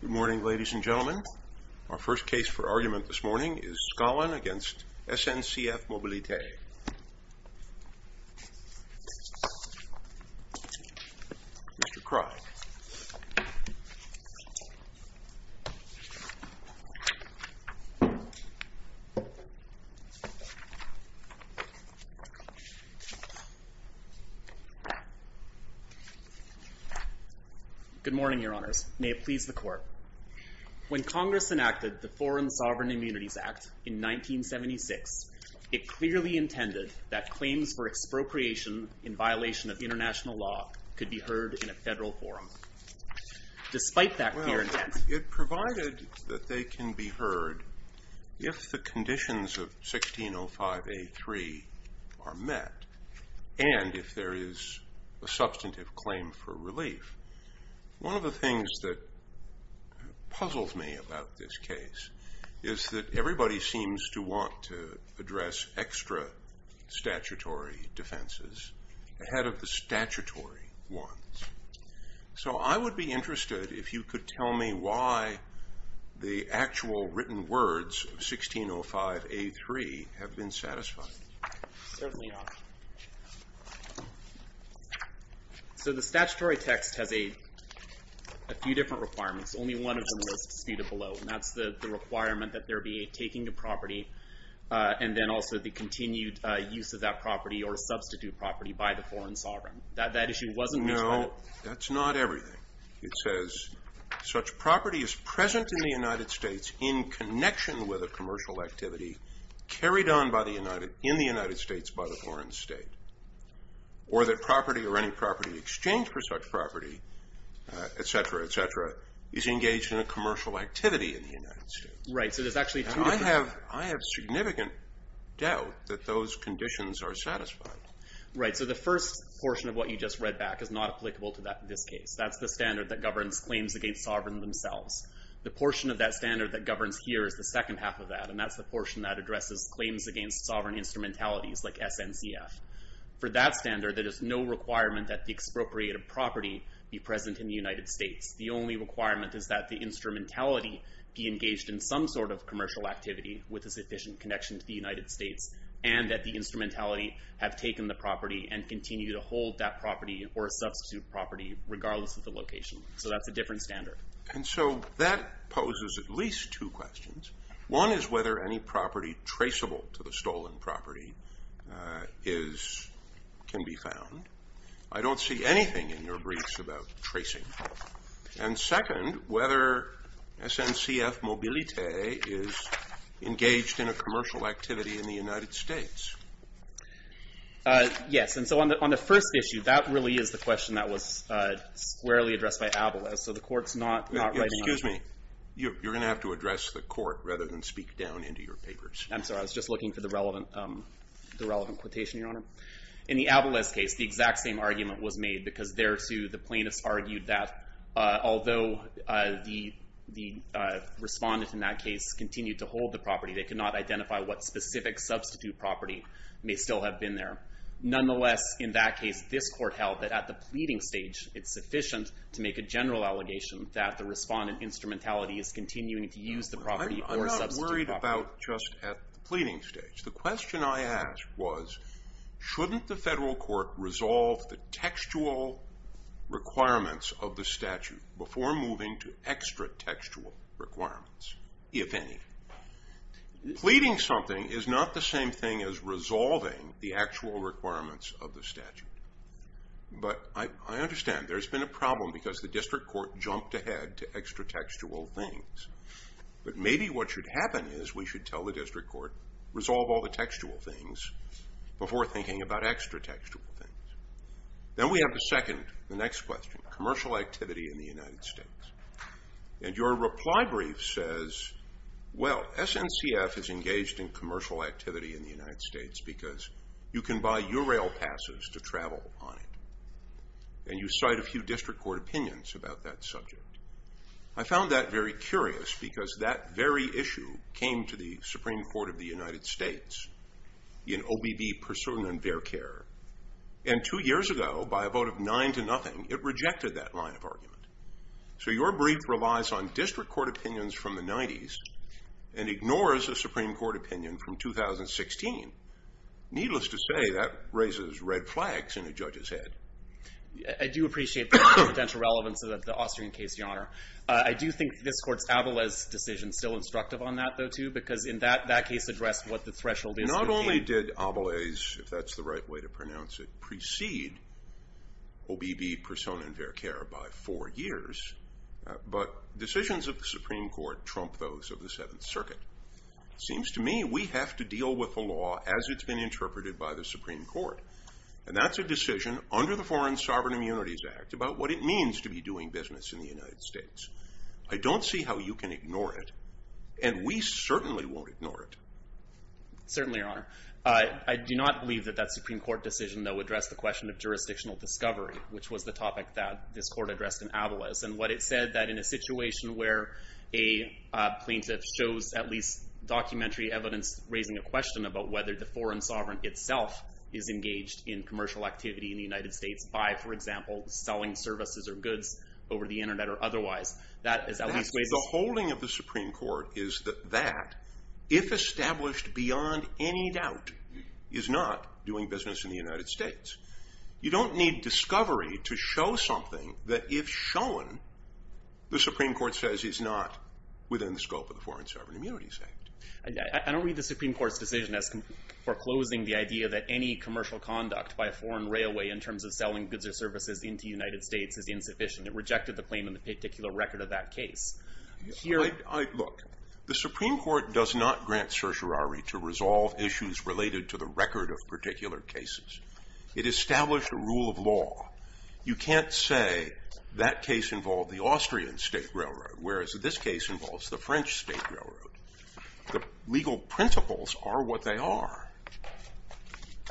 Good morning, ladies and gentlemen. Our first case for argument this morning is Scalin v. SNCF Mobilité. Mr. Krogh. Thank you. Good morning, Your Honors. May it please the Court. When Congress enacted the Foreign Sovereign Immunities Act in 1976, it clearly intended that claims for expropriation in violation of international law could be heard in a federal forum, despite that clear intent. Well, it provided that they can be heard if the conditions of 1605A3 are met and if there is a substantive claim for relief. One of the things that puzzles me about this case is that everybody seems to want to address extra statutory defenses ahead of the statutory ones. So I would be interested if you could tell me why the actual written words of 1605A3 have been satisfied. Certainly not. So the statutory text has a few different requirements. Only one of them was disputed below, and that's the requirement that there be a taking of property and then also the continued use of that property or substitute property by the foreign sovereign. That issue wasn't disputed. No, that's not everything. It says such property is present in the United States in connection with a commercial activity carried on in the United States by the foreign state, or that property or any property exchanged for such property, etc., etc., is engaged in a commercial activity in the United States. I have significant doubt that those conditions are satisfied. Right, so the first portion of what you just read back is not applicable to this case. That's the standard that governs claims against sovereign themselves. The portion of that standard that governs here is the second half of that, and that's the portion that addresses claims against sovereign instrumentalities like SNCF. For that standard, there is no requirement that the expropriated property be present in the United States. The only requirement is that the instrumentality be engaged in some sort of commercial activity with a sufficient connection to the United States, and that the instrumentality have taken the property and continue to hold that property or substitute property regardless of the location. So that's a different standard. And so that poses at least two questions. One is whether any property traceable to the stolen property can be found. I don't see anything in your briefs about tracing. And second, whether SNCF Mobilité is engaged in a commercial activity in the United States. Yes, and so on the first issue, that really is the question that was squarely addressed by Avales. So the Court's not writing on it. Excuse me. You're going to have to address the Court rather than speak down into your papers. I'm sorry. I was just looking for the relevant quotation, Your Honor. In the Avales case, the exact same argument was made because there, too, the plaintiffs argued that although the respondent in that case continued to hold the property, they could not identify what specific substitute property may still have been there. Nonetheless, in that case, this Court held that at the pleading stage, it's sufficient to make a general allegation that the respondent instrumentality is continuing to use the property or substitute property. I'm not worried about just at the pleading stage. The question I asked was shouldn't the federal court resolve the textual requirements of the statute before moving to extra-textual requirements, if any? Pleading something is not the same thing as resolving the actual requirements of the statute. But I understand there's been a problem because the district court jumped ahead to extra-textual things. But maybe what should happen is we should tell the district court, resolve all the textual things before thinking about extra-textual things. Then we have the second, the next question, commercial activity in the United States. And your reply brief says, well, SNCF is engaged in commercial activity in the United States because you can buy URail passes to travel on it. And you cite a few district court opinions about that subject. I found that very curious because that very issue came to the Supreme Court of the United States in OBB Pursuit and Verkehr. And two years ago, by a vote of nine to nothing, it rejected that line of argument. So your brief relies on district court opinions from the 90s and ignores a Supreme Court opinion from 2016. Needless to say, that raises red flags in a judge's head. I do appreciate the potential relevance of the Austrian case, Your Honor. I do think this court's Avales decision is still instructive on that, though, too, because in that case addressed what the threshold is. Not only did Avales, if that's the right way to pronounce it, precede OBB Pursuit and Verkehr by four years, but decisions of the Supreme Court trump those of the Seventh Circuit. It seems to me we have to deal with the law as it's been interpreted by the Supreme Court. And that's a decision under the Foreign Sovereign Immunities Act about what it means to be doing business in the United States. I don't see how you can ignore it. And we certainly won't ignore it. Certainly, Your Honor. I do not believe that that Supreme Court decision, though, addressed the question of jurisdictional discovery, which was the topic that this court addressed in Avales. And what it said, that in a situation where a plaintiff shows at least documentary evidence raising a question about whether the Foreign Sovereign itself is engaged in commercial activity in the United States by, for example, selling services or goods over the Internet or otherwise, The holding of the Supreme Court is that if established beyond any doubt, is not doing business in the United States. You don't need discovery to show something that, if shown, the Supreme Court says is not within the scope of the Foreign Sovereign Immunities Act. I don't read the Supreme Court's decision as foreclosing the idea that any commercial conduct by a foreign railway in terms of selling goods or services into the United States is insufficient. It rejected the claim in the particular record of that case. Look, the Supreme Court does not grant certiorari to resolve issues related to the record of particular cases. It established a rule of law. You can't say that case involved the Austrian State Railroad, whereas this case involves the French State Railroad. The legal principles are what they are.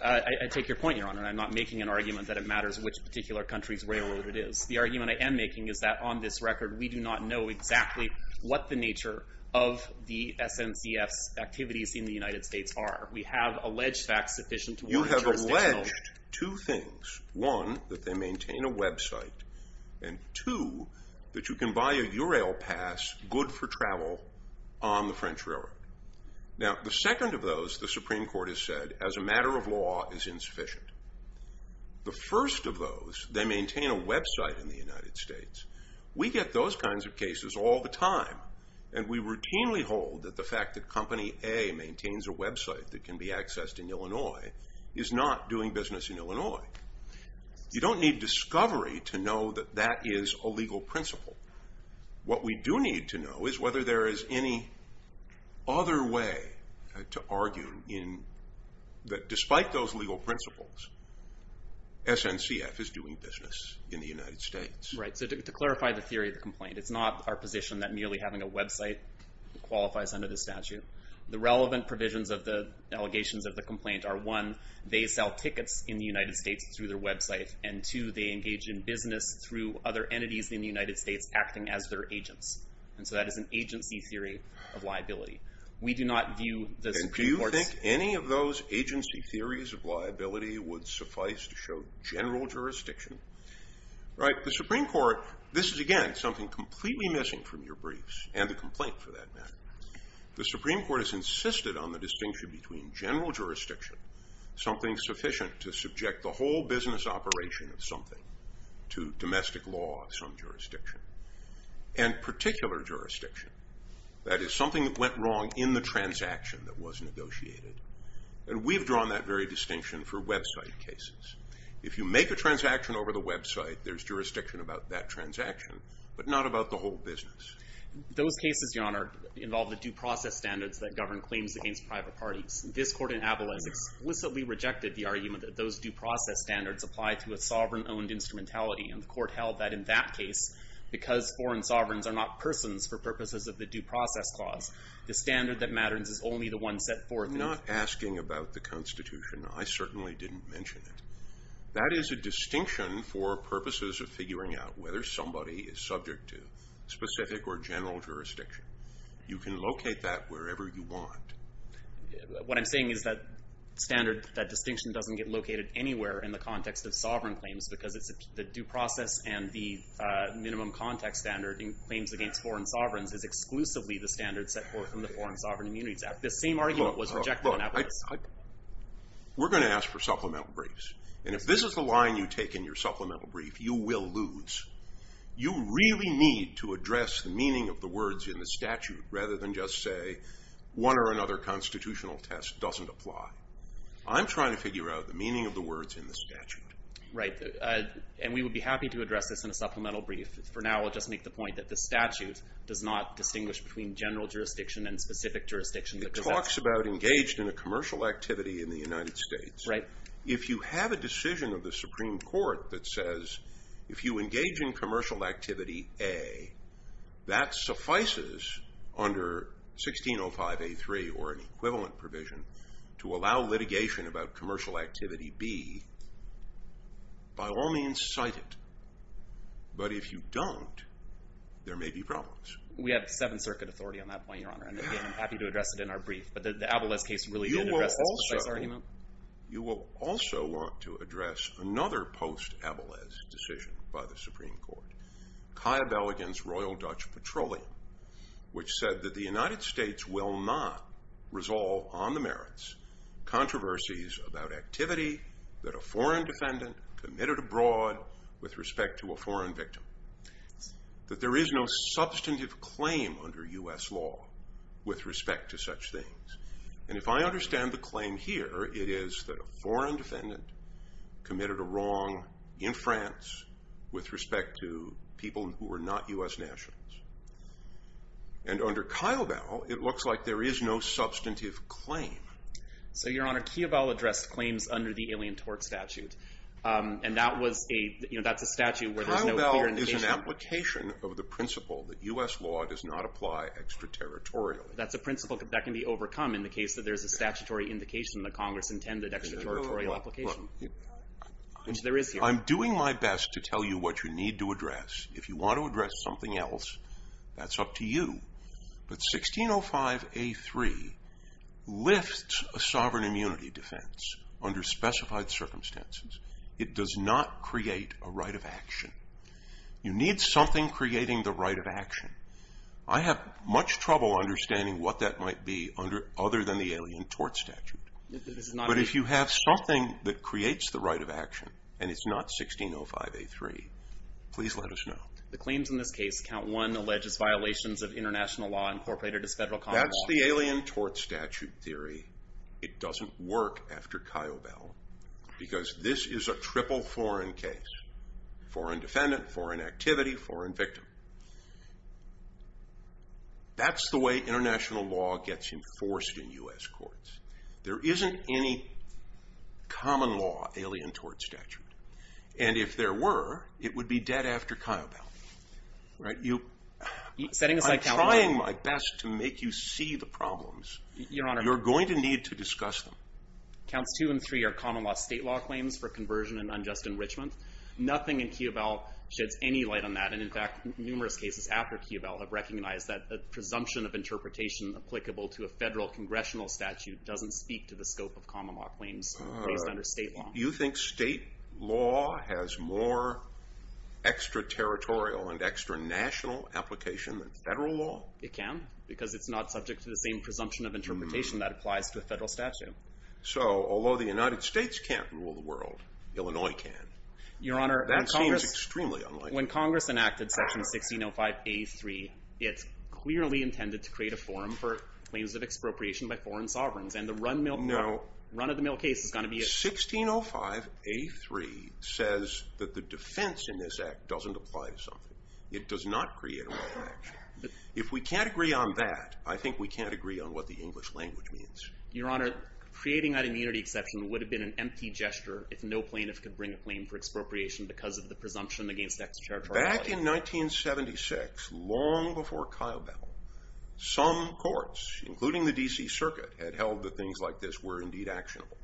I take your point, Your Honor. I'm not making an argument that it matters which particular country's railroad it is. The argument I am making is that, on this record, we do not know exactly what the nature of the SNCF's activities in the United States are. We have alleged facts sufficient to warrant jurisdiction. You have alleged two things. One, that they maintain a website. And two, that you can buy a Eurail pass, good for travel, on the French Railroad. Now, the second of those, the Supreme Court has said, as a matter of law, is insufficient. The first of those, they maintain a website in the United States. We get those kinds of cases all the time, and we routinely hold that the fact that Company A maintains a website that can be accessed in Illinois is not doing business in Illinois. You don't need discovery to know that that is a legal principle. What we do need to know is whether there is any other way to argue that despite those legal principles, SNCF is doing business in the United States. Right, so to clarify the theory of the complaint, it's not our position that merely having a website qualifies under the statute. The relevant provisions of the allegations of the complaint are, one, they sell tickets in the United States through their website, and two, they engage in business through other entities in the United States acting as their agents. And so that is an agency theory of liability. We do not view the Supreme Court's... And do you think any of those agency theories of liability would suffice to show general jurisdiction? Right, the Supreme Court, this is, again, something completely missing from your briefs, and the complaint, for that matter. The Supreme Court has insisted on the distinction between general jurisdiction, something sufficient to subject the whole business operation of something, to domestic law of some jurisdiction, and particular jurisdiction, that is, something that went wrong in the transaction that was negotiated. And we've drawn that very distinction for website cases. If you make a transaction over the website, there's jurisdiction about that transaction, but not about the whole business. Those cases, Your Honor, involve the due process standards that govern claims against private parties. This court in Abilene explicitly rejected the argument that those due process standards apply to a sovereign-owned instrumentality, and the court held that in that case, because foreign sovereigns are not persons for purposes of the due process clause, the standard that matters is only the one set forth in... I'm not asking about the Constitution. I certainly didn't mention it. That is a distinction for purposes of figuring out whether somebody is subject to specific or general jurisdiction. You can locate that wherever you want. What I'm saying is that standard, that distinction doesn't get located anywhere in the context of sovereign claims, because the due process and the minimum context standard in claims against foreign sovereigns is exclusively the standard set forth in the Foreign Sovereign Immunities Act. The same argument was rejected in Abilene. We're going to ask for supplemental briefs. And if this is the line you take in your supplemental brief, you will lose. You really need to address the meaning of the words in the statute rather than just say, one or another constitutional test doesn't apply. I'm trying to figure out the meaning of the words in the statute. Right. And we would be happy to address this in a supplemental brief. For now, I'll just make the point that the statute does not distinguish between general jurisdiction and specific jurisdiction. It talks about engaged in a commercial activity in the United States. Right. If you have a decision of the Supreme Court that says, if you engage in commercial activity A, that suffices under 1605A3 or an equivalent provision to allow litigation about commercial activity B, by all means cite it. But if you don't, there may be problems. We have Seventh Circuit authority on that point, Your Honor. And again, I'm happy to address it in our brief. But the Abilene case really did address this. You will also want to address another post-Abilene decision by the Supreme Court, Kaya Belligan's Royal Dutch Petroleum, which said that the United States will not resolve on the merits controversies about activity that a foreign defendant committed abroad with respect to a foreign victim. That there is no substantive claim under U.S. law with respect to such things. And if I understand the claim here, it is that a foreign defendant committed a wrong in France with respect to people who were not U.S. nationals. And under Kaya Bell, it looks like there is no substantive claim. So, Your Honor, Kaya Bell addressed claims under the Alien Tort Statute. And that's a statute where there's no clear indication. Kaya Bell is an application of the principle that U.S. law does not apply extraterritorially. That's a principle that can be overcome in the case that there's a statutory indication that Congress intended extraterritorial application, which there is here. I'm doing my best to tell you what you need to address. If you want to address something else, that's up to you. But 1605A3 lifts a sovereign immunity defense under specified circumstances. It does not create a right of action. You need something creating the right of action. I have much trouble understanding what that might be other than the Alien Tort Statute. But if you have something that creates the right of action, and it's not 1605A3, please let us know. That's the Alien Tort Statute theory. It doesn't work after Kaya Bell because this is a triple foreign case. Foreign defendant, foreign activity, foreign victim. That's the way international law gets enforced in U.S. courts. There isn't any common law Alien Tort Statute. And if there were, it would be dead after Kaya Bell. I'm trying my best to make you see the problems. You're going to need to discuss them. Counts 2 and 3 are common law state law claims for conversion and unjust enrichment. Nothing in Kaya Bell sheds any light on that. And in fact, numerous cases after Kaya Bell have recognized that the presumption of interpretation applicable to a federal congressional statute doesn't speak to the scope of common law claims placed under state law. You think state law has more extra-territorial and extra-national application than federal law? It can, because it's not subject to the same presumption of interpretation that applies to a federal statute. So although the United States can't rule the world, Illinois can. That seems extremely unlikely. When Congress enacted Section 1605A3, it clearly intended to create a forum for claims of expropriation by foreign sovereigns. And the run of the mill case is going to be a forum. 1605A3 says that the defense in this act doesn't apply to something. It does not create a right to action. If we can't agree on that, I think we can't agree on what the English language means. Your Honor, creating that immunity exception would have been an empty gesture if no plaintiff could bring a claim for expropriation because of the presumption against extra-territoriality. Back in 1976, long before Kyle Battle, some courts, including the DC Circuit, had held that things like this were indeed actionable.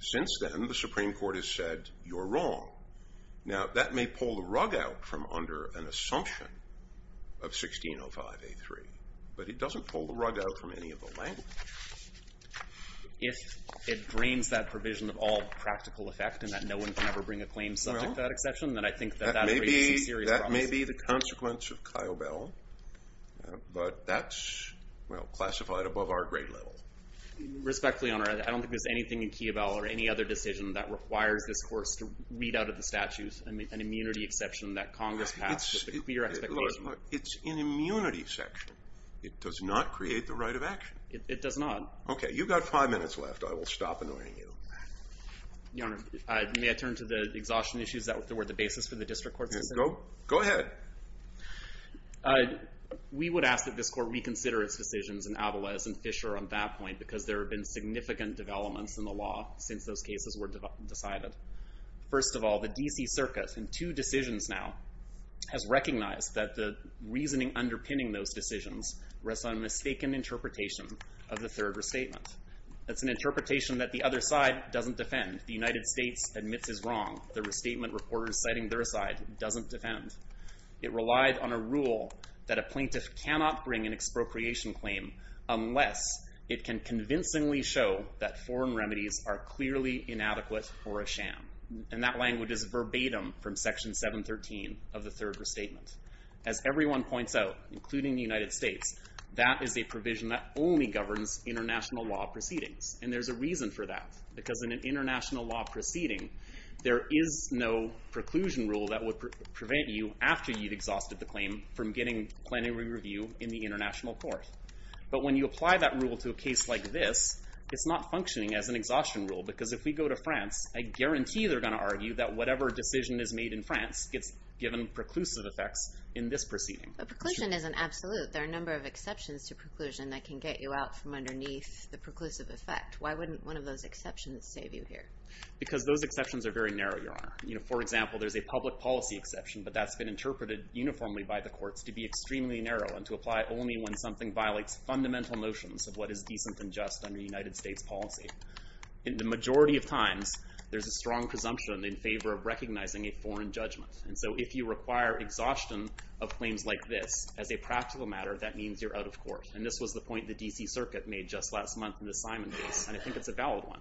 Since then, the Supreme Court has said you're wrong. Now, that may pull the rug out from under an assumption of 1605A3, but it doesn't pull the rug out from any of the language. If it drains that provision of all practical effect and that no one can ever bring a claim subject to that exception, then I think that that raises some serious problems. That may be the consequence of Kyle Battle, but that's, well, classified above our grade level. Respectfully, Your Honor, I don't think there's anything in Kiobel or any other decision that requires this course to read out of the statutes an immunity exception that Congress passed with a clear expectation. Look, it's an immunity section. It does not create the right of action. It does not. Okay, you've got five minutes left. I will stop annoying you. Your Honor, may I turn to the exhaustion issues that were the basis for the district court decision? Go ahead. We would ask that this court reconsider its decisions in Avales and Fisher on that point because there have been significant developments in the law since those cases were decided. First of all, the D.C. Circus, in two decisions now, has recognized that the reasoning underpinning those decisions rests on a mistaken interpretation of the third restatement. That's an interpretation that the other side doesn't defend. The United States admits is wrong. The restatement reporters citing their side doesn't defend. It relied on a rule that a plaintiff cannot bring an expropriation claim unless it can convincingly show that foreign remedies are clearly inadequate or a sham. And that language is verbatim from Section 713 of the third restatement. As everyone points out, including the United States, that is a provision that only governs international law proceedings. And there's a reason for that because in an international law proceeding, there is no preclusion rule that would prevent you, after you've exhausted the claim, from getting plenary review in the international court. But when you apply that rule to a case like this, it's not functioning as an exhaustion rule because if we go to France, I guarantee they're going to argue that whatever decision is made in France gets given preclusive effects in this proceeding. But preclusion isn't absolute. There are a number of exceptions to preclusion that can get you out from underneath the preclusive effect. Why wouldn't one of those exceptions save you here? Because those exceptions are very narrow, Your Honor. For example, there's a public policy exception, but that's been interpreted uniformly by the courts to be extremely narrow and to apply only when something violates fundamental notions of what is decent and just under United States policy. And the majority of times, there's a strong presumption in favor of recognizing a foreign judgment. And so if you require exhaustion of claims like this, as a practical matter, that means you're out of court. And this was the point the D.C. Circuit made just last month in the Simon case, and I think it's a valid one.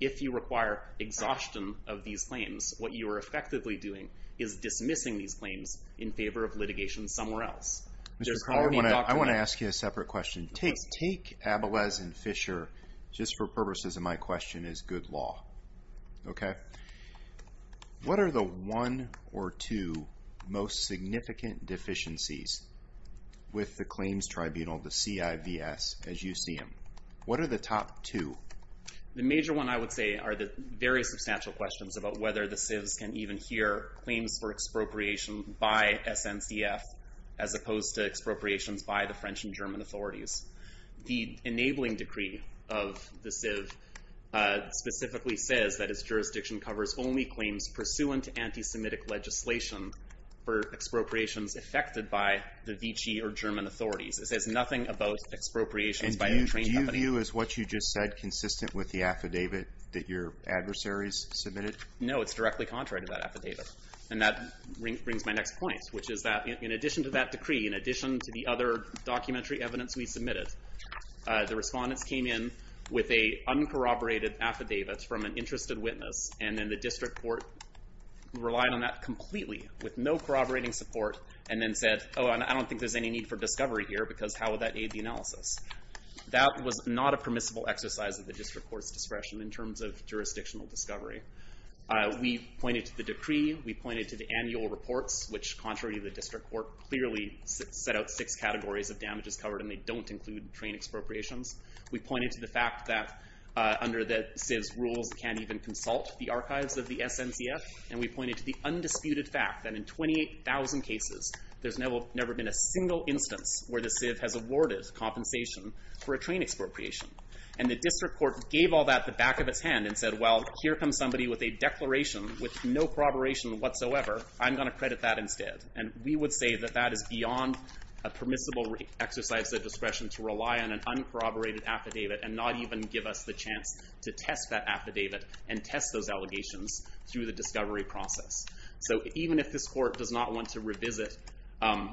If you require exhaustion of these claims, what you are effectively doing is dismissing these claims in favor of litigation somewhere else. There's no need... I want to ask you a separate question. Take Abelez and Fisher, just for purposes of my question, as good law. Okay? What are the one or two most significant deficiencies with the claims tribunal, the CIVS, as you see them? What are the top two? The major one, I would say, are the very substantial questions about whether the CIVS can even hear claims for expropriation by SNCF, as opposed to expropriations by the French and German authorities. The enabling decree of the CIVS specifically says that its jurisdiction covers only claims pursuant to anti-Semitic legislation for expropriations affected by the Vichy or German authorities. It says nothing about expropriations by a trained company. To you, is what you just said consistent with the affidavit that your adversaries submitted? No, it's directly contrary to that affidavit. And that brings my next point, which is that in addition to that decree, in addition to the other documentary evidence we submitted, the respondents came in with an uncorroborated affidavit from an interested witness, and then the district court relied on that completely, with no corroborating support, and then said, oh, I don't think there's any need for discovery here because how would that aid the analysis? That was not a permissible exercise of the district court's discretion in terms of jurisdictional discovery. We pointed to the decree. We pointed to the annual reports, which, contrary to the district court, clearly set out six categories of damages covered, and they don't include trained expropriations. We pointed to the fact that under the CIVS rules, it can't even consult the archives of the SNCF, and we pointed to the undisputed fact that in 28,000 cases, there's never been a single instance where the CIVS has awarded compensation for a trained expropriation, and the district court gave all that the back of its hand and said, well, here comes somebody with a declaration with no corroboration whatsoever. I'm going to credit that instead, and we would say that that is beyond a permissible exercise of discretion to rely on an uncorroborated affidavit and not even give us the chance to test that affidavit and test those allegations through the discovery process, so even if this court does not want to revisit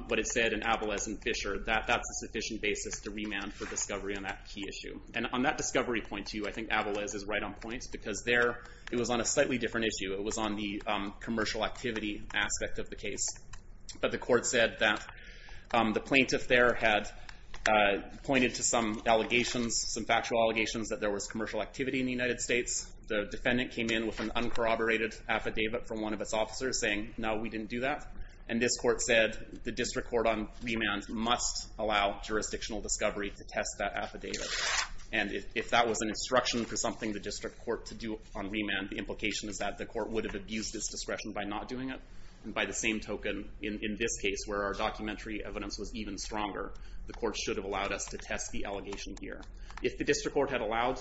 what it said in Avales and Fisher, that's a sufficient basis to remand for discovery on that key issue, and on that discovery point, too, I think Avales is right on point because there it was on a slightly different issue. It was on the commercial activity aspect of the case, but the court said that the plaintiff there had pointed to some allegations, some factual allegations that there was commercial activity in the United States. The defendant came in with an uncorroborated affidavit from one of its officers saying, no, we didn't do that, and this court said the district court on remand must allow jurisdictional discovery to test that affidavit, and if that was an instruction for something the district court to do on remand, the implication is that the court would have abused its discretion by not doing it, and by the same token, in this case, where our documentary evidence was even stronger, the court should have allowed us to test the allegation here. If the district court had allowed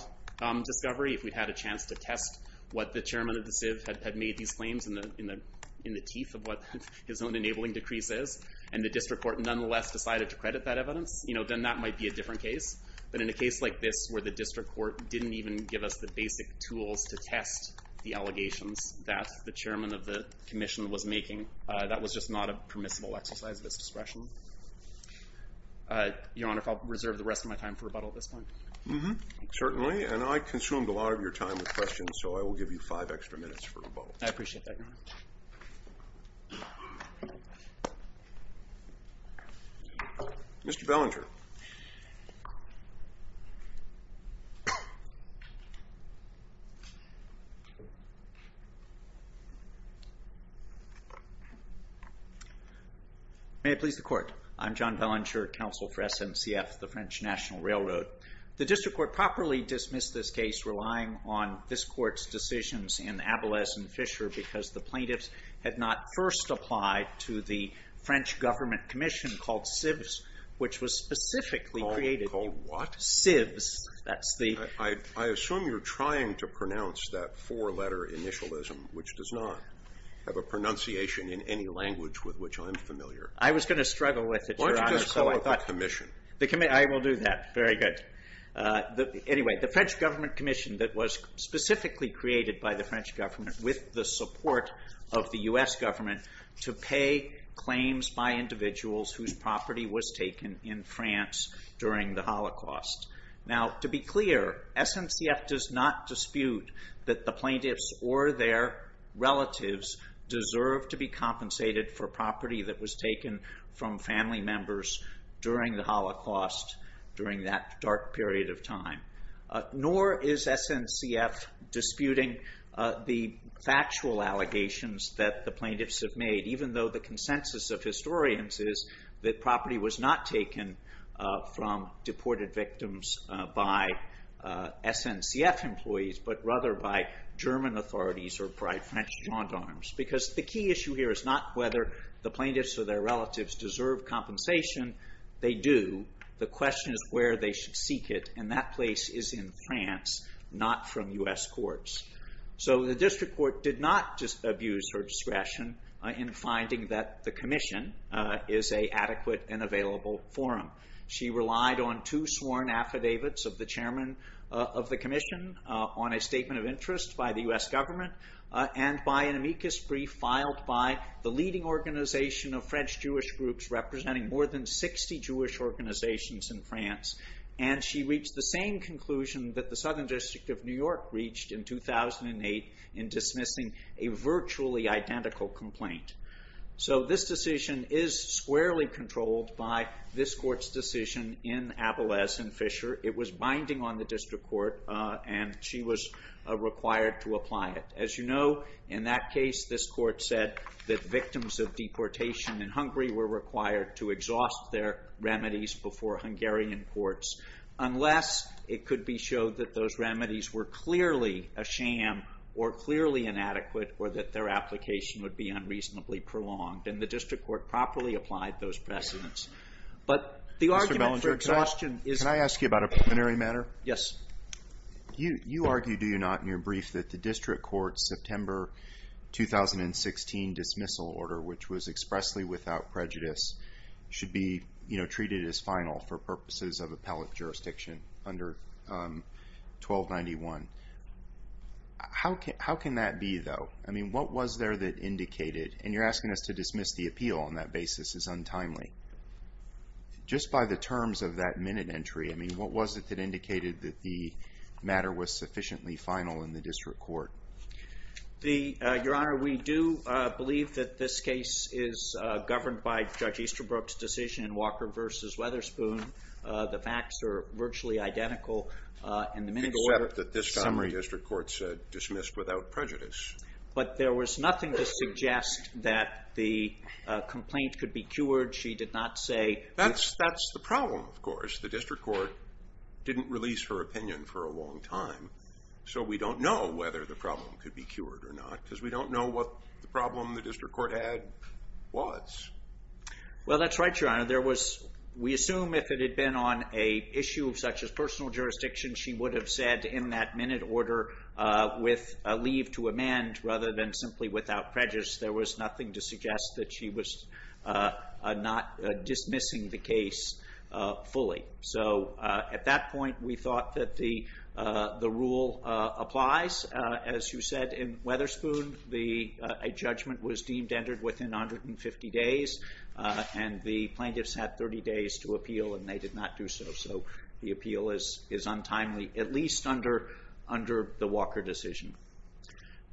discovery, if we'd had a chance to test what the chairman of the CIV had made these claims in the teeth of what his own enabling decrees is, and the district court nonetheless decided to credit that evidence, then that might be a different case, but in a case like this where the district court didn't even give us the basic tools to test the allegations that the chairman of the commission was making, that was just not a permissible exercise of its discretion. Your Honor, if I'll reserve the rest of my time for rebuttal at this point. so I will give you five extra minutes for rebuttal. I appreciate that, Your Honor. Mr. Bellinger. May it please the court. I'm John Bellinger, counsel for SNCF, the French National Railroad. The district court properly dismissed this case relying on this court's decisions in Abeles and Fisher because the plaintiffs had not first applied to the French government commission called CIVS, which was specifically created... Called what? CIVS, that's the... I assume you're trying to pronounce that four-letter initialism, which does not have a pronunciation in any language with which I'm familiar. I was going to struggle with it, Your Honor. Why don't you just call it the commission? I will do that. Very good. Anyway, the French government commission that was specifically created by the French government with the support of the US government to pay claims by individuals whose property was taken in France during the Holocaust. Now, to be clear, SNCF does not dispute that the plaintiffs or their relatives deserve to be compensated for property that was taken from family members during the Holocaust, during that dark period of time. Nor is SNCF disputing the factual allegations that the plaintiffs have made, even though the consensus of historians is that property was not taken from deported victims by SNCF employees, but rather by German authorities or by French gendarmes. Because the key issue here is not whether the plaintiffs or their relatives deserve compensation. They do. The question is where they should seek it, and that place is in France, not from US courts. So the district court did not just abuse her discretion in finding that the commission is an adequate and available forum. She relied on two sworn affidavits of the chairman of the commission on a statement of interest by the US government and by an amicus brief filed by the leading organization of French Jewish groups representing more than 60 Jewish organizations in France. And she reached the same conclusion that the Southern District of New York reached in 2008 in dismissing a virtually identical complaint. So this decision is squarely controlled by this court's decision in Avales and Fisher. It was binding on the district court, and she was required to apply it. As you know, in that case, this court said that victims of deportation in Hungary were required to exhaust their remedies before Hungarian courts, unless it could be showed that those remedies were clearly a sham or clearly inadequate or that their application would be unreasonably prolonged. And the district court properly applied those precedents. But the argument for exhaustion is... Mr. Bedford, can I ask you about a preliminary matter? Yes. You argue, do you not, in your brief, that the district court's September 2016 dismissal order, which was expressly without prejudice, should be treated as final for purposes of appellate jurisdiction under 1291? How can that be, though? I mean, what was there that indicated... And you're asking us to dismiss the appeal on that basis as untimely. Just by the terms of that minute entry, I mean, what was it that indicated that the matter was sufficiently final in the district court? Your Honour, we do believe that this case is governed by Judge Easterbrook's decision in Walker v. Weatherspoon. The facts are virtually identical. Except that this time the district court said dismissed without prejudice. But there was nothing to suggest that the complaint could be cured. She did not say... That's the problem, of course. The district court didn't release her opinion for a long time. So we don't know whether the problem could be cured or not because we don't know what the problem the district court had was. Well, that's right, Your Honour. We assume if it had been on an issue such as personal jurisdiction, she would have said in that minute order with a leave to amend rather than simply without prejudice. There was nothing to suggest that she was not dismissing the case fully. So at that point, we thought that the rule applies. As you said, in Weatherspoon, a judgment was deemed entered within 150 days and the plaintiffs had 30 days to appeal and they did not do so. So the appeal is untimely, at least under the Walker decision.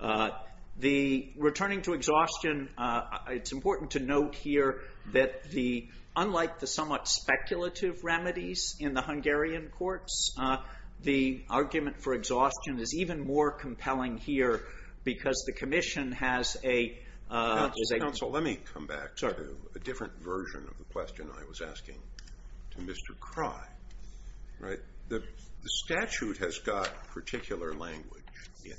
Returning to exhaustion, it's important to note here that unlike the somewhat speculative remedies in the Hungarian courts, the argument for exhaustion is even more compelling here because the Commission has a... Counsel, let me come back to a different version of the question I was asking to Mr. Crye. The statute has got particular language in it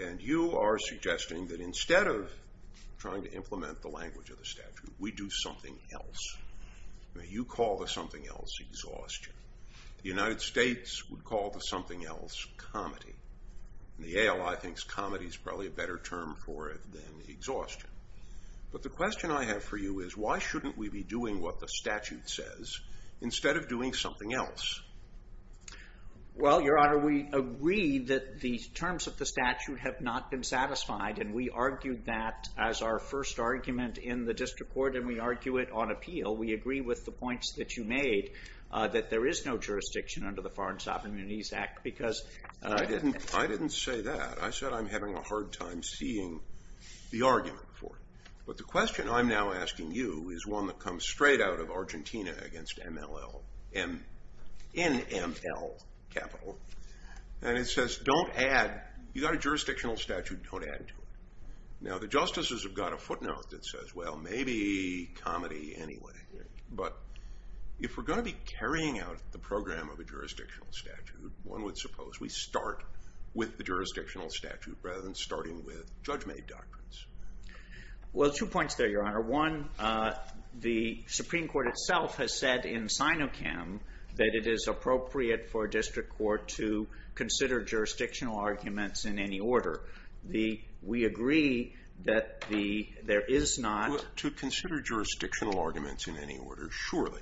and you are suggesting that instead of trying to implement the language of the statute, we do something else. You call the something else exhaustion. The United States would call the something else comedy. The ALI thinks comedy is probably a better term for it than exhaustion. But the question I have for you is why shouldn't we be doing what the statute says instead of doing something else? Well, Your Honor, we agree that the terms of the statute have not been satisfied and we argued that as our first argument in the district court and we argue it on appeal. We agree with the points that you made that there is no jurisdiction under the Foreign Sovereignties Act because... I didn't say that. I said I'm having a hard time seeing the argument for it. But the question I'm now asking you is one that comes straight out of Argentina against MLL, in ML capital, and it says don't add... You got a jurisdictional statute, don't add to it. Now, the justices have got a footnote that says, well, maybe comedy anyway. But if we're going to be carrying out the program of a jurisdictional statute, one would suppose we start with the jurisdictional statute rather than starting with judge-made doctrines. Well, two points there, Your Honor. One, the Supreme Court itself has said in Sinochem that it is appropriate for a district court to consider jurisdictional arguments in any order. We agree that there is not... To consider jurisdictional arguments in any order, surely.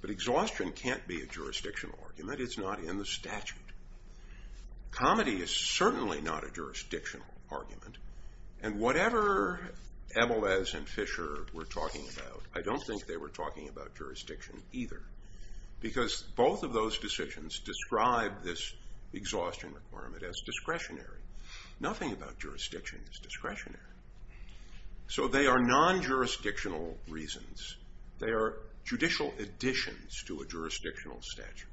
But exhaustion can't be a jurisdictional argument. It's not in the statute. Comedy is certainly not a jurisdictional argument. And whatever Ebelez and Fisher were talking about, I don't think they were talking about jurisdiction either because both of those decisions describe this exhaustion requirement as discretionary. Nothing about jurisdiction is discretionary. So they are non-jurisdictional reasons. They are judicial additions to a jurisdictional statute.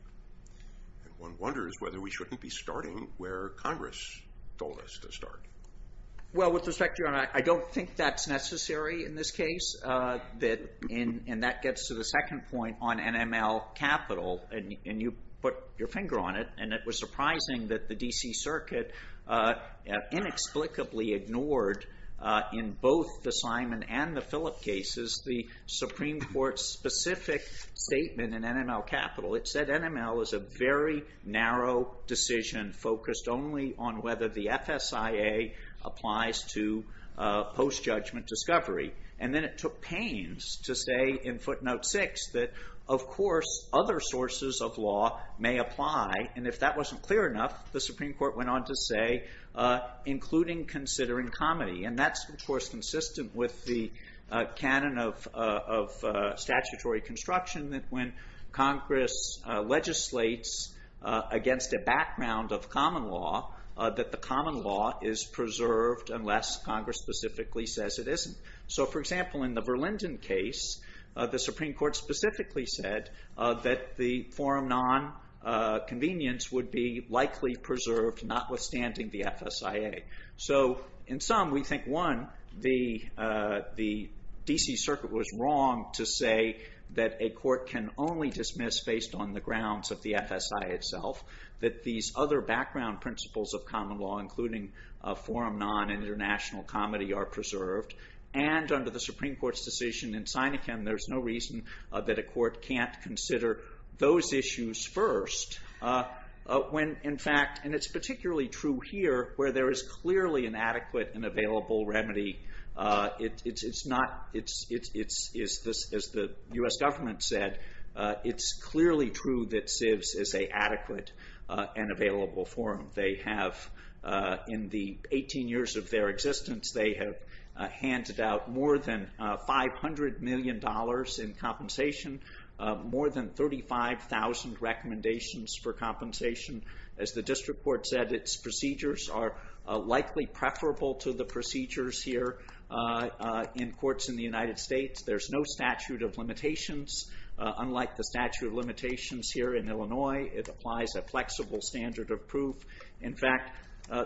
And one wonders whether we shouldn't be starting where Congress told us to start. Well, with respect, Your Honor, I don't think that's necessary in this case. And that gets to the second point on NML capital. And you put your finger on it, and it was surprising that the D.C. Circuit inexplicably ignored in both the Simon and the Philip cases the Supreme Court's specific statement in NML capital. It said NML is a very narrow decision focused only on whether the FSIA applies to post-judgment discovery. And then it took pains to say in footnote 6 that, of course, other sources of law may apply. And if that wasn't clear enough, the Supreme Court went on to say, including considering comedy. And that's, of course, consistent with the canon of statutory construction, that when Congress legislates against a background of common law, that the common law is preserved unless Congress specifically says it isn't. So, for example, in the Verlinden case, the Supreme Court specifically said that the forum non-convenience would be likely preserved notwithstanding the FSIA. So in sum, we think, one, the D.C. Circuit was wrong to say that a court can only dismiss based on the grounds of the FSIA itself that these other background principles of common law, including forum non-international comedy, are preserved. And under the Supreme Court's decision in Sinekin, there's no reason that a court can't consider those issues first when, in fact, and it's particularly true here where there is clearly an adequate and available remedy. It's not... As the U.S. government said, it's clearly true that CIVS is an adequate and available forum. They have, in the 18 years of their existence, they have handed out more than $500 million in compensation, more than 35,000 recommendations for compensation. As the district court said, its procedures are likely preferable to the procedures here in courts in the United States. There's no statute of limitations. Unlike the statute of limitations here in Illinois, it applies a flexible standard of proof. In fact,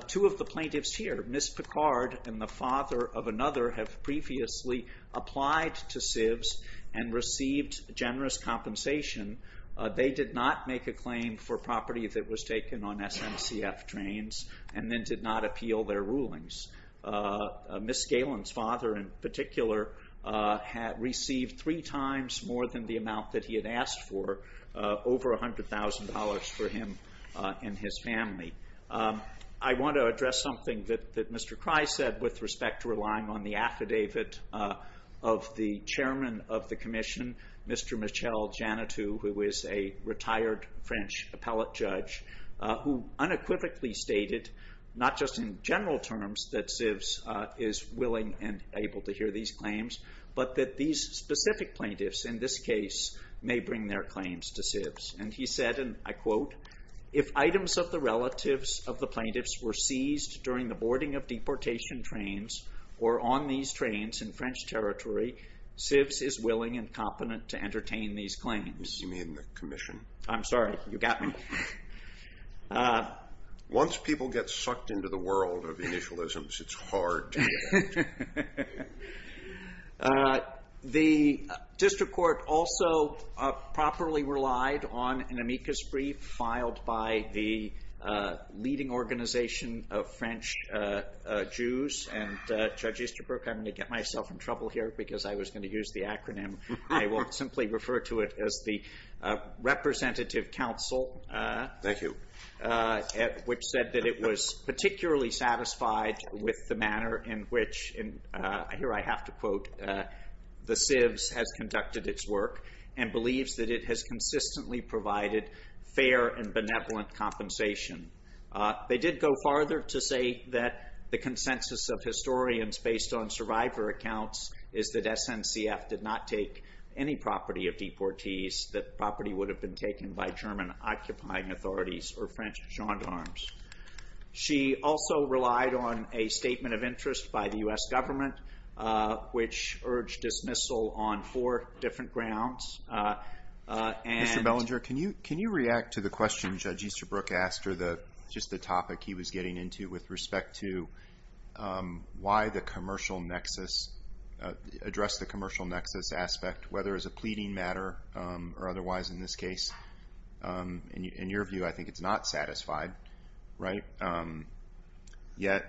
two of the plaintiffs here, Ms. Picard and the father of another, have previously applied to CIVS and received generous compensation. They did not make a claim for property that was taken on SMCF trains and then did not appeal their rulings. Ms. Galen's father, in particular, received three times more than the amount that he had asked for, over $100,000 for him and his family. I want to address something that Mr. Cry said with respect to relying on the affidavit of the chairman of the commission, Mr. Michel Janotou, who is a retired French appellate judge, who unequivocally stated, not just in general terms, that CIVS is willing and able to hear these claims, but that these specific plaintiffs, in this case, may bring their claims to CIVS. And he said, and I quote, if items of the relatives of the plaintiffs were seized during the boarding of deportation trains or on these trains in French territory, CIVS is willing and competent to entertain these claims. You mean the commission? I'm sorry, you got me. Once people get sucked into the world of initialisms, it's hard to react. The district court also properly relied on an amicus brief filed by the leading organization of French Jews, and Judge Easterbrook, I'm going to get myself in trouble here because I was going to use the acronym. I will simply refer to it as the Representative Council. Thank you. Which said that it was particularly satisfied with the manner in which, and here I have to quote, the CIVS has conducted its work and believes that it has consistently provided fair and benevolent compensation. They did go farther to say that the consensus of historians based on survivor accounts is that SNCF did not take any property of deportees, that property would have been taken by German occupying authorities or French gendarmes. She also relied on a statement of interest by the U.S. government, which urged dismissal on four different grounds. Mr. Bellinger, can you react to the question Judge Easterbrook asked or just the topic he was getting into with respect to why the commercial nexus, address the commercial nexus aspect, whether as a pleading matter or otherwise in this case. In your view, I think it's not satisfied, right? Yet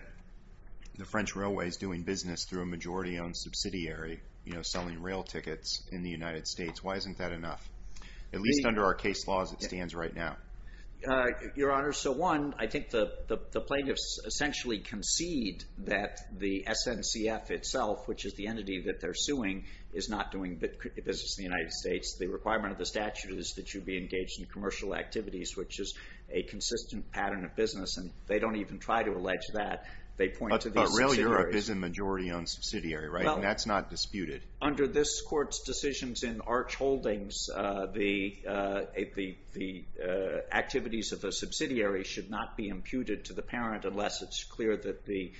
the French railway is doing business through a majority owned subsidiary, selling rail tickets in the United States. Why isn't that enough? At least under our case laws it stands right now. Your Honor, so one, I think the plaintiffs essentially concede that the SNCF itself, which is the entity that they're suing, is not doing business in the United States. The requirement of the statute is that you be engaged in commercial activities, which is a consistent pattern of business, and they don't even try to allege that. They point to these subsidiaries. But Rail Europe is a majority owned subsidiary, right? That's not disputed. Under this Court's decisions in Arch Holdings, the activities of a subsidiary should not be imputed to the parent unless it's clear that the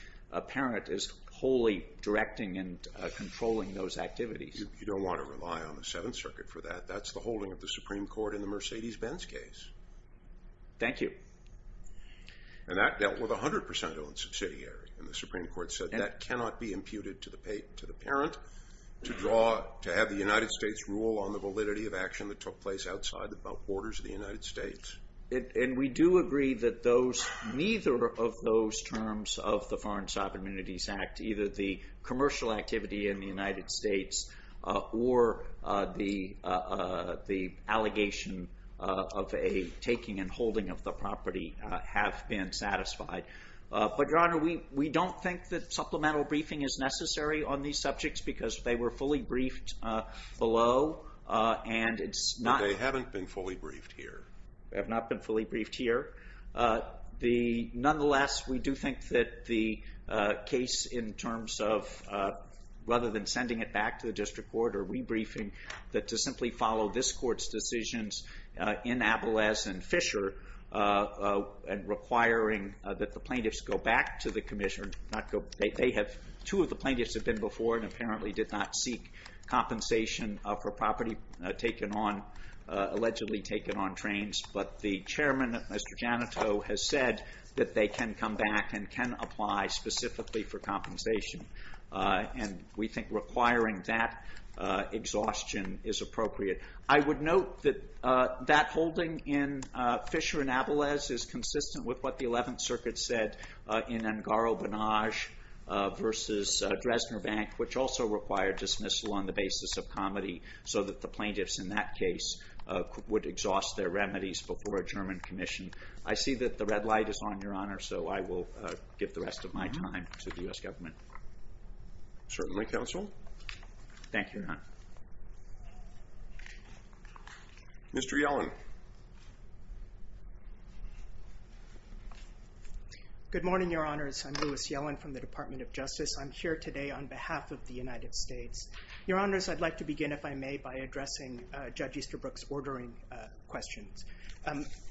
parent is wholly directing and controlling those activities. You don't want to rely on the Seventh Circuit for that. That's the holding of the Supreme Court in the Mercedes-Benz case. Thank you. And that dealt with 100% owned subsidiary, and the Supreme Court said that cannot be imputed to the parent to have the United States rule on the validity of action that took place outside the borders of the United States. And we do agree that neither of those terms of the Foreign Sovereignties Act, either the commercial activity in the United States or the allegation of a taking and holding of the property have been satisfied. But, Your Honor, we don't think that supplemental briefing is necessary on these subjects because they were fully briefed below, and it's not... But they haven't been fully briefed here. They have not been fully briefed here. Nonetheless, we do think that the case in terms of, rather than sending it back to the district court or rebriefing, that to simply follow this court's decisions in Abeles and Fisher and requiring that the plaintiffs go back to the commission... Two of the plaintiffs have been before and apparently did not seek compensation for property allegedly taken on trains, but the chairman, Mr. Janito, has said that they can come back and can apply specifically for compensation and we think requiring that exhaustion is appropriate. I would note that that holding in Fisher and Abeles is consistent with what the Eleventh Circuit said in Angaro-Bonage versus Dresdner Bank, which also required dismissal on the basis of comedy so that the plaintiffs in that case would exhaust their remedies before a German commission. I see that the red light is on, Your Honor, so I will give the rest of my time to the U.S. government. Certainly, Counsel. Thank you, Your Honor. Mr. Yellen. Good morning, Your Honors. I'm Louis Yellen from the Department of Justice. I'm here today on behalf of the United States. Your Honors, I'd like to begin, if I may, by addressing Judge Easterbrook's ordering questions.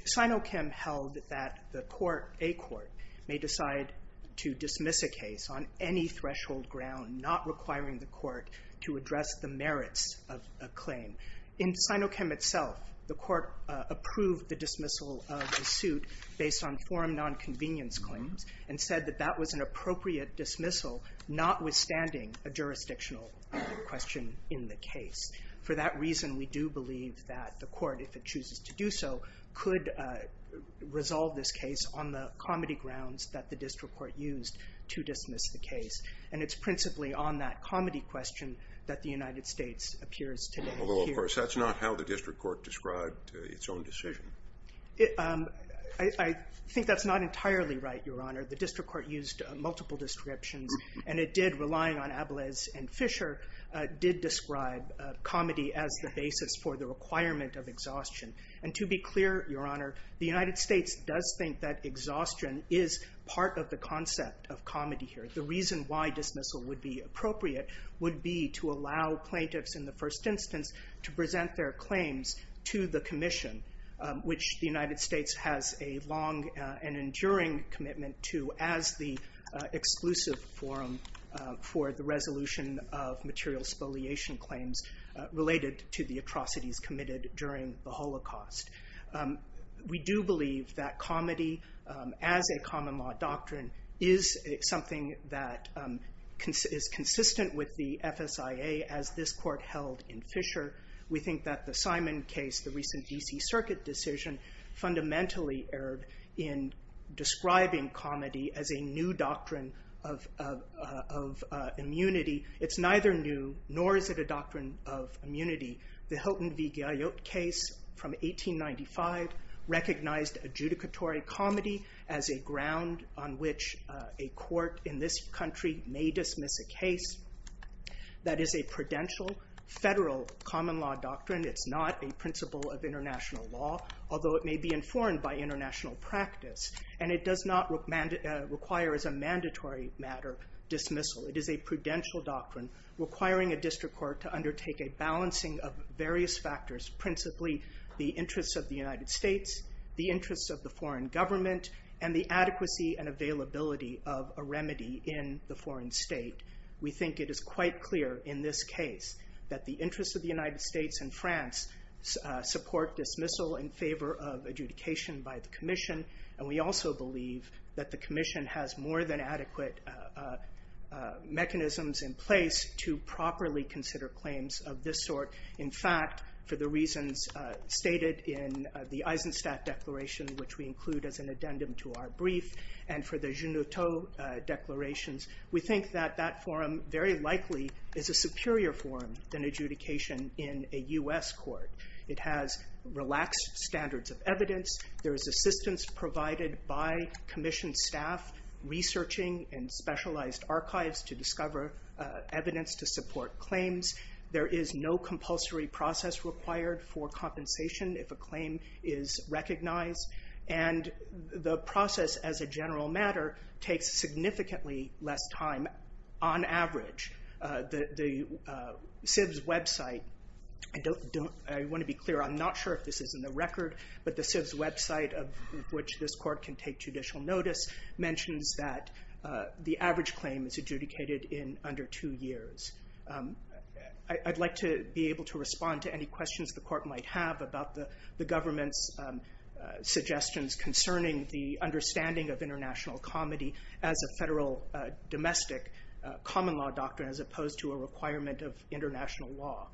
Sinochem held that the court, a court, may decide to dismiss a case on any threshold ground, not requiring the court to address the merits of a claim. In Sinochem itself, the court approved the dismissal of the suit based on forum nonconvenience claims and said that that was an appropriate dismissal notwithstanding a jurisdictional question in the case. For that reason, we do believe that the court, if it chooses to do so, could resolve this case on the comedy grounds that the district court used to dismiss the case. And it's principally on that comedy question that the United States appears today here. Although, of course, that's not how the district court described its own decision. I think that's not entirely right, Your Honor. The district court used multiple descriptions, and it did, relying on Abelez and Fisher, did describe comedy as the basis for the requirement of exhaustion. And to be clear, Your Honor, the United States does think that exhaustion is part of the concept of comedy here. The reason why dismissal would be appropriate would be to allow plaintiffs in the first instance to present their claims to the commission, which the United States has a long and enduring commitment to as the exclusive forum for the resolution of material spoliation claims related to the atrocities committed during the Holocaust. We do believe that comedy, as a common law doctrine, is something that is consistent with the FSIA, as this court held in Fisher. We think that the Simon case, the recent D.C. Circuit decision, fundamentally erred in describing comedy as a new doctrine of immunity. It's neither new, nor is it a doctrine of immunity. The Hilton v. Galliot case from 1895 recognized adjudicatory comedy as a ground on which a court in this country may dismiss a case that is a prudential federal common law doctrine. It's not a principle of international law, although it may be informed by international practice, and it does not require as a mandatory matter dismissal. It is a prudential doctrine requiring a district court to undertake a balancing of various factors, principally the interests of the United States, the interests of the foreign government, and the adequacy and availability of a remedy in the foreign state. We think it is quite clear in this case that the interests of the United States and France support dismissal in favor of adjudication by the Commission, and we also believe that the Commission has more than adequate mechanisms in place to properly consider claims of this sort. In fact, for the reasons stated in the Eisenstadt Declaration, which we include as an addendum to our brief, and for the Junotau declarations, we think that that forum very likely is a superior forum than adjudication in a U.S. court. It has relaxed standards of evidence. There is assistance provided by Commission staff researching in specialized archives to discover evidence to support claims. There is no compulsory process required for compensation if a claim is recognized, and the process as a general matter takes significantly less time on average. The CIBS website, I want to be clear, I'm not sure if this is in the record, but the CIBS website, of which this court can take judicial notice, mentions that the average claim is adjudicated in under two years. I'd like to be able to respond to any questions the court might have about the government's suggestions concerning the understanding of international comity as a federal domestic common law doctrine as opposed to a requirement of international law.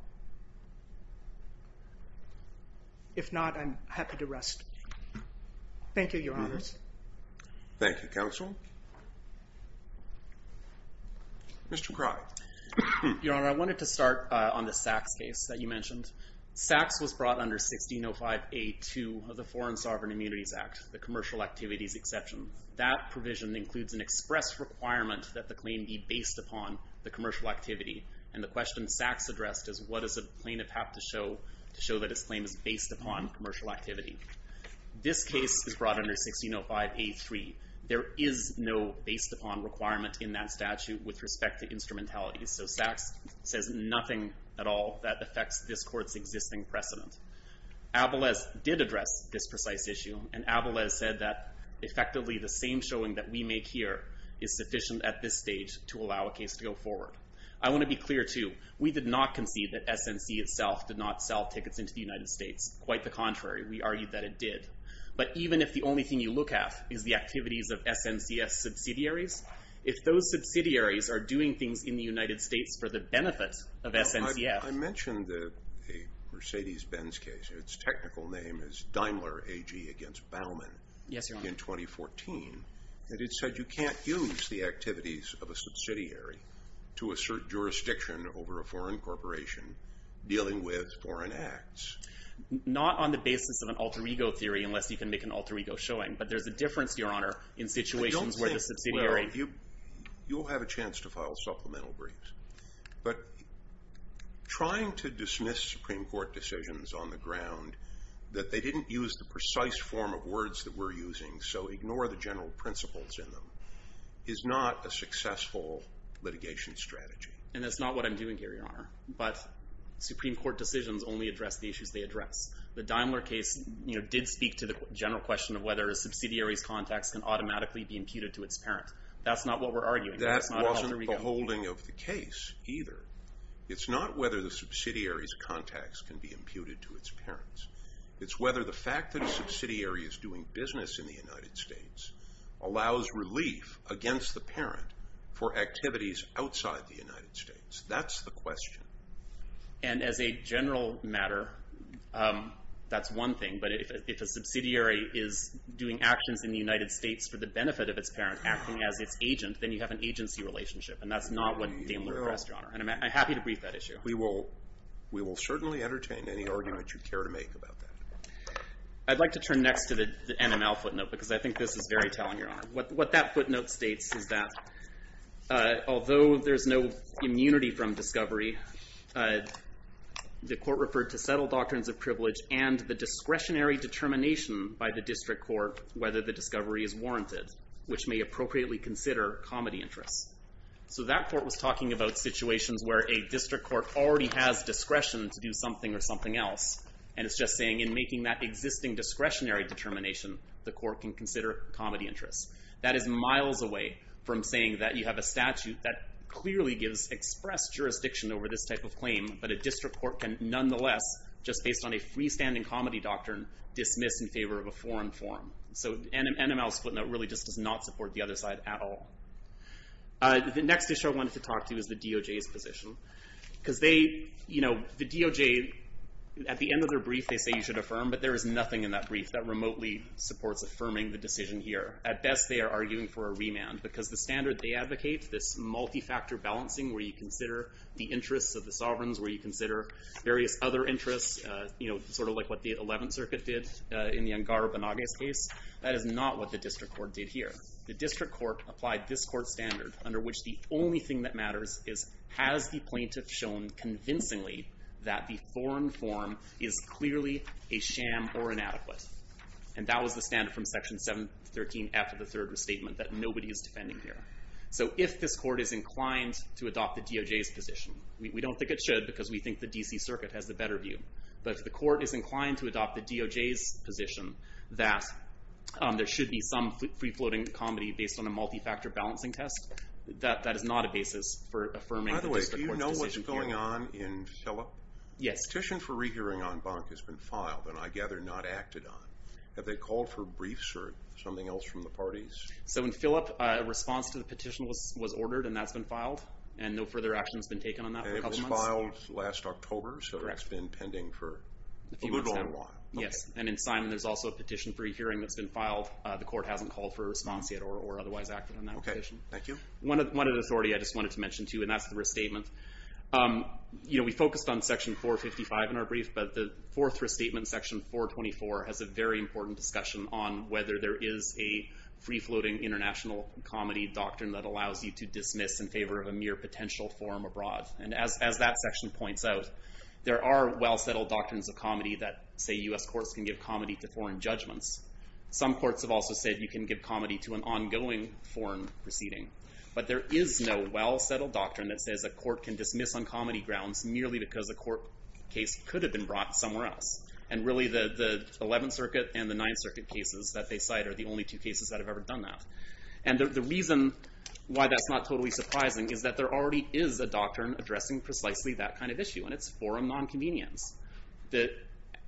If not, I'm happy to rest. Thank you, Your Honors. Thank you, Counsel. Mr. Cry. Your Honor, I wanted to start on the Sachs case that you mentioned. Sachs was brought under 1605A2 of the Foreign Sovereign Immunities Act, the commercial activities exception. That provision includes an express requirement that the claim be based upon the commercial activity, and the question Sachs addressed is what does a plaintiff have to show to show that his claim is based upon commercial activity. This case is brought under 1605A3. There is no based upon requirement in that statute with respect to instrumentality, so Sachs says nothing at all that affects this court's existing precedent. Avales did address this precise issue, and Avales said that, effectively, the same showing that we make here is sufficient at this stage to allow a case to go forward. I want to be clear, too. We did not concede that SNC itself did not sell tickets into the United States. Quite the contrary, we argued that it did. But even if the only thing you look at is the activities of SNCF subsidiaries, if those subsidiaries are doing things in the United States for the benefit of SNCF... I mentioned the Mercedes-Benz case. Its technical name is Daimler AG against Bauman... Yes, Your Honor. ...in 2014. And it said you can't use the activities of a subsidiary to assert jurisdiction over a foreign corporation dealing with foreign acts. Not on the basis of an alter-ego theory, unless you can make an alter-ego showing, but there's a difference, Your Honor, in situations where the subsidiary... I don't think... Well, you'll have a chance to file supplemental briefs. But trying to dismiss Supreme Court decisions on the ground that they didn't use the precise form of words that we're using, so ignore the general principles in them, is not a successful litigation strategy. And that's not what I'm doing here, Your Honor. But Supreme Court decisions only address the issues they address. The Daimler case did speak to the general question of whether a subsidiary's contacts can automatically be imputed to its parent. That's not what we're arguing. That wasn't the holding of the case, either. It's not whether the subsidiary's contacts can be imputed to its parents. It's whether the fact that a subsidiary is doing business in the United States allows relief against the parent for activities outside the United States. That's the question. And as a general matter, that's one thing, but if a subsidiary is doing actions in the United States for the benefit of its parent, acting as its agent, then you have an agency relationship. And that's not what Daimler addressed, Your Honor. And I'm happy to brief that issue. We will certainly entertain any argument you care to make about that. I'd like to turn next to the NML footnote, because I think this is very telling, Your Honor. What that footnote states is that although there's no immunity from discovery, the court referred to settled doctrines of privilege and the discretionary determination by the district court whether the discovery is warranted, which may appropriately consider comedy interests. So that court was talking about situations where a district court already has discretion to do something or something else, and it's just saying in making that existing discretionary determination, the court can consider comedy interests. That is miles away from saying that you have a statute that clearly gives expressed jurisdiction over this type of claim, but a district court can nonetheless, just based on a freestanding comedy doctrine, dismiss in favor of a foreign forum. So NML's footnote really just does not support the other side at all. The next issue I wanted to talk to is the DOJ's position. Because they, you know, the DOJ, at the end of their brief, they say you should affirm, but there is nothing in that brief that remotely supports affirming the decision here. At best, they are arguing for a remand, because the standard they advocate, this multi-factor balancing where you consider the interests of the sovereigns, where you consider various other interests, sort of like what the 11th Circuit did in the Angara-Banagas case, that is not what the district court did here. The district court applied this court's standard under which the only thing that matters is has the plaintiff shown convincingly that the foreign forum is clearly a sham or inadequate. And that was the standard from section 713F of the third restatement, that nobody is defending here. So if this court is inclined to adopt the DOJ's position, we don't think it should, because we think the D.C. Circuit has the better view, but if the court is inclined to adopt the DOJ's position that there should be some free-floating comedy based on a multi-factor balancing test, that is not a basis for affirming the district court's decision here. By the way, do you know what's going on in Phillip? A petition for re-hearing on Bonk has been filed, and I gather not acted on. Have they called for briefs or something else from the parties? So in Phillip, a response to the petition was ordered, and that's been filed, and no further action has been taken on that for a couple of months. And it was filed last October, so it's been pending for a little while. Yes, and in Simon there's also a petition for re-hearing that's been filed. The court hasn't called for a response yet or otherwise acted on that petition. One other authority I just wanted to mention too, and that's the restatement. We focused on section 455 in our brief, but the fourth restatement, section 424, has a very important discussion on whether there is a free-floating international comedy doctrine that allows you to dismiss in favor of a mere potential forum abroad. And as that section points out, there are well-settled doctrines of comedy that, say, U.S. courts can give comedy to foreign judgments. Some courts have also said you can give comedy to an ongoing foreign proceeding. But there is no well-settled doctrine that says a court can dismiss on comedy grounds merely because a court case could have been brought somewhere else. And really the 11th Circuit and the 9th Circuit cases that they cite are the only two cases that have ever done that. And the reason why that's not totally surprising is that there already is a doctrine addressing precisely that kind of issue, and it's forum nonconvenience.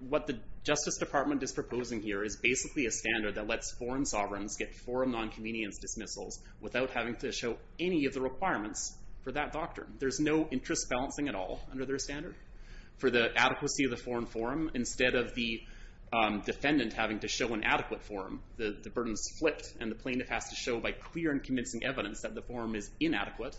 What the Justice Department is proposing here is basically a standard that lets foreign sovereigns get forum nonconvenience dismissals without having to show any of the requirements for that doctrine. There's no interest balancing at all under their standard for the adequacy of the foreign forum. Instead of the defendant having to show an adequate forum, the burden is flipped, and the plaintiff has to show by clear and convincing evidence that the forum is inadequate.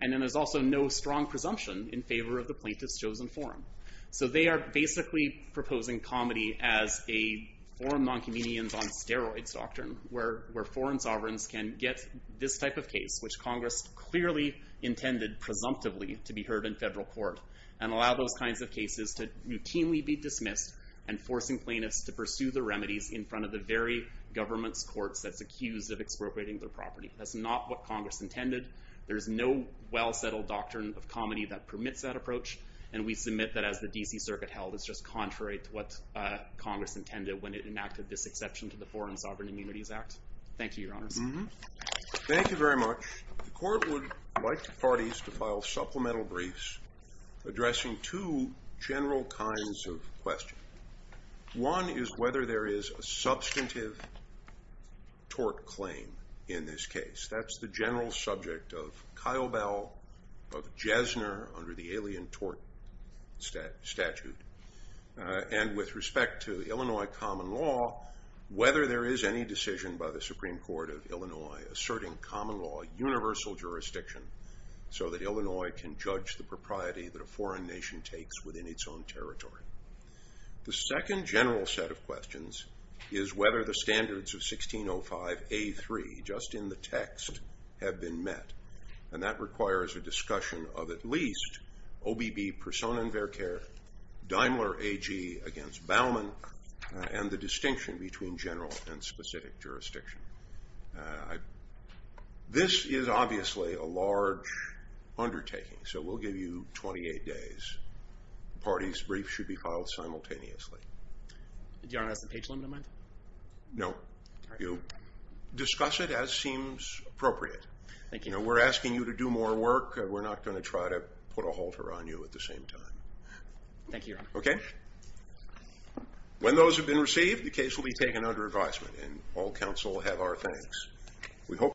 And then there's also no strong presumption in favor of the plaintiff's chosen forum. So they are basically proposing comedy as a forum nonconvenience on steroids doctrine, where foreign sovereigns can get this type of case, which Congress clearly intended, presumptively, to be heard in federal court, and allow those kinds of cases to routinely be dismissed, and forcing plaintiffs to pursue their remedies in front of the very government's courts that's accused of expropriating their property. That's not what Congress intended. There's no well-settled doctrine of comedy that permits that approach, and we submit that as the D.C. Circuit held, it's just contrary to what Congress intended when it enacted this exception to the Foreign Sovereign Immunities Act. Thank you, Your Honors. Thank you very much. The Court would like the parties to file supplemental briefs addressing two general kinds of questions. One is whether there is a substantive tort claim in this case. That's the general subject of Kyle Bell, of Jesner, under the Alien Tort Statute. And with respect to Illinois common law, whether there is any decision by the Supreme Court of Illinois asserting common law universal jurisdiction so that Illinois can judge the propriety that a foreign nation takes within its own territory. The second general set of questions is whether the standards of 1605A3, just in the text, have been met. And that requires a discussion of at least OBB Persona in Verker, Daimler AG against Baumann, and the distinction between general and specific jurisdiction. This is obviously a large undertaking, so we'll give you 28 days. Parties' briefs should be filed simultaneously. Do you have the page limit in mind? No. You discuss it as seems appropriate. We're asking you to do more work. We're not going to try to put a halter on you at the same time. Okay? When those have been received, the case will be taken under advisement, and all counsel have our thanks.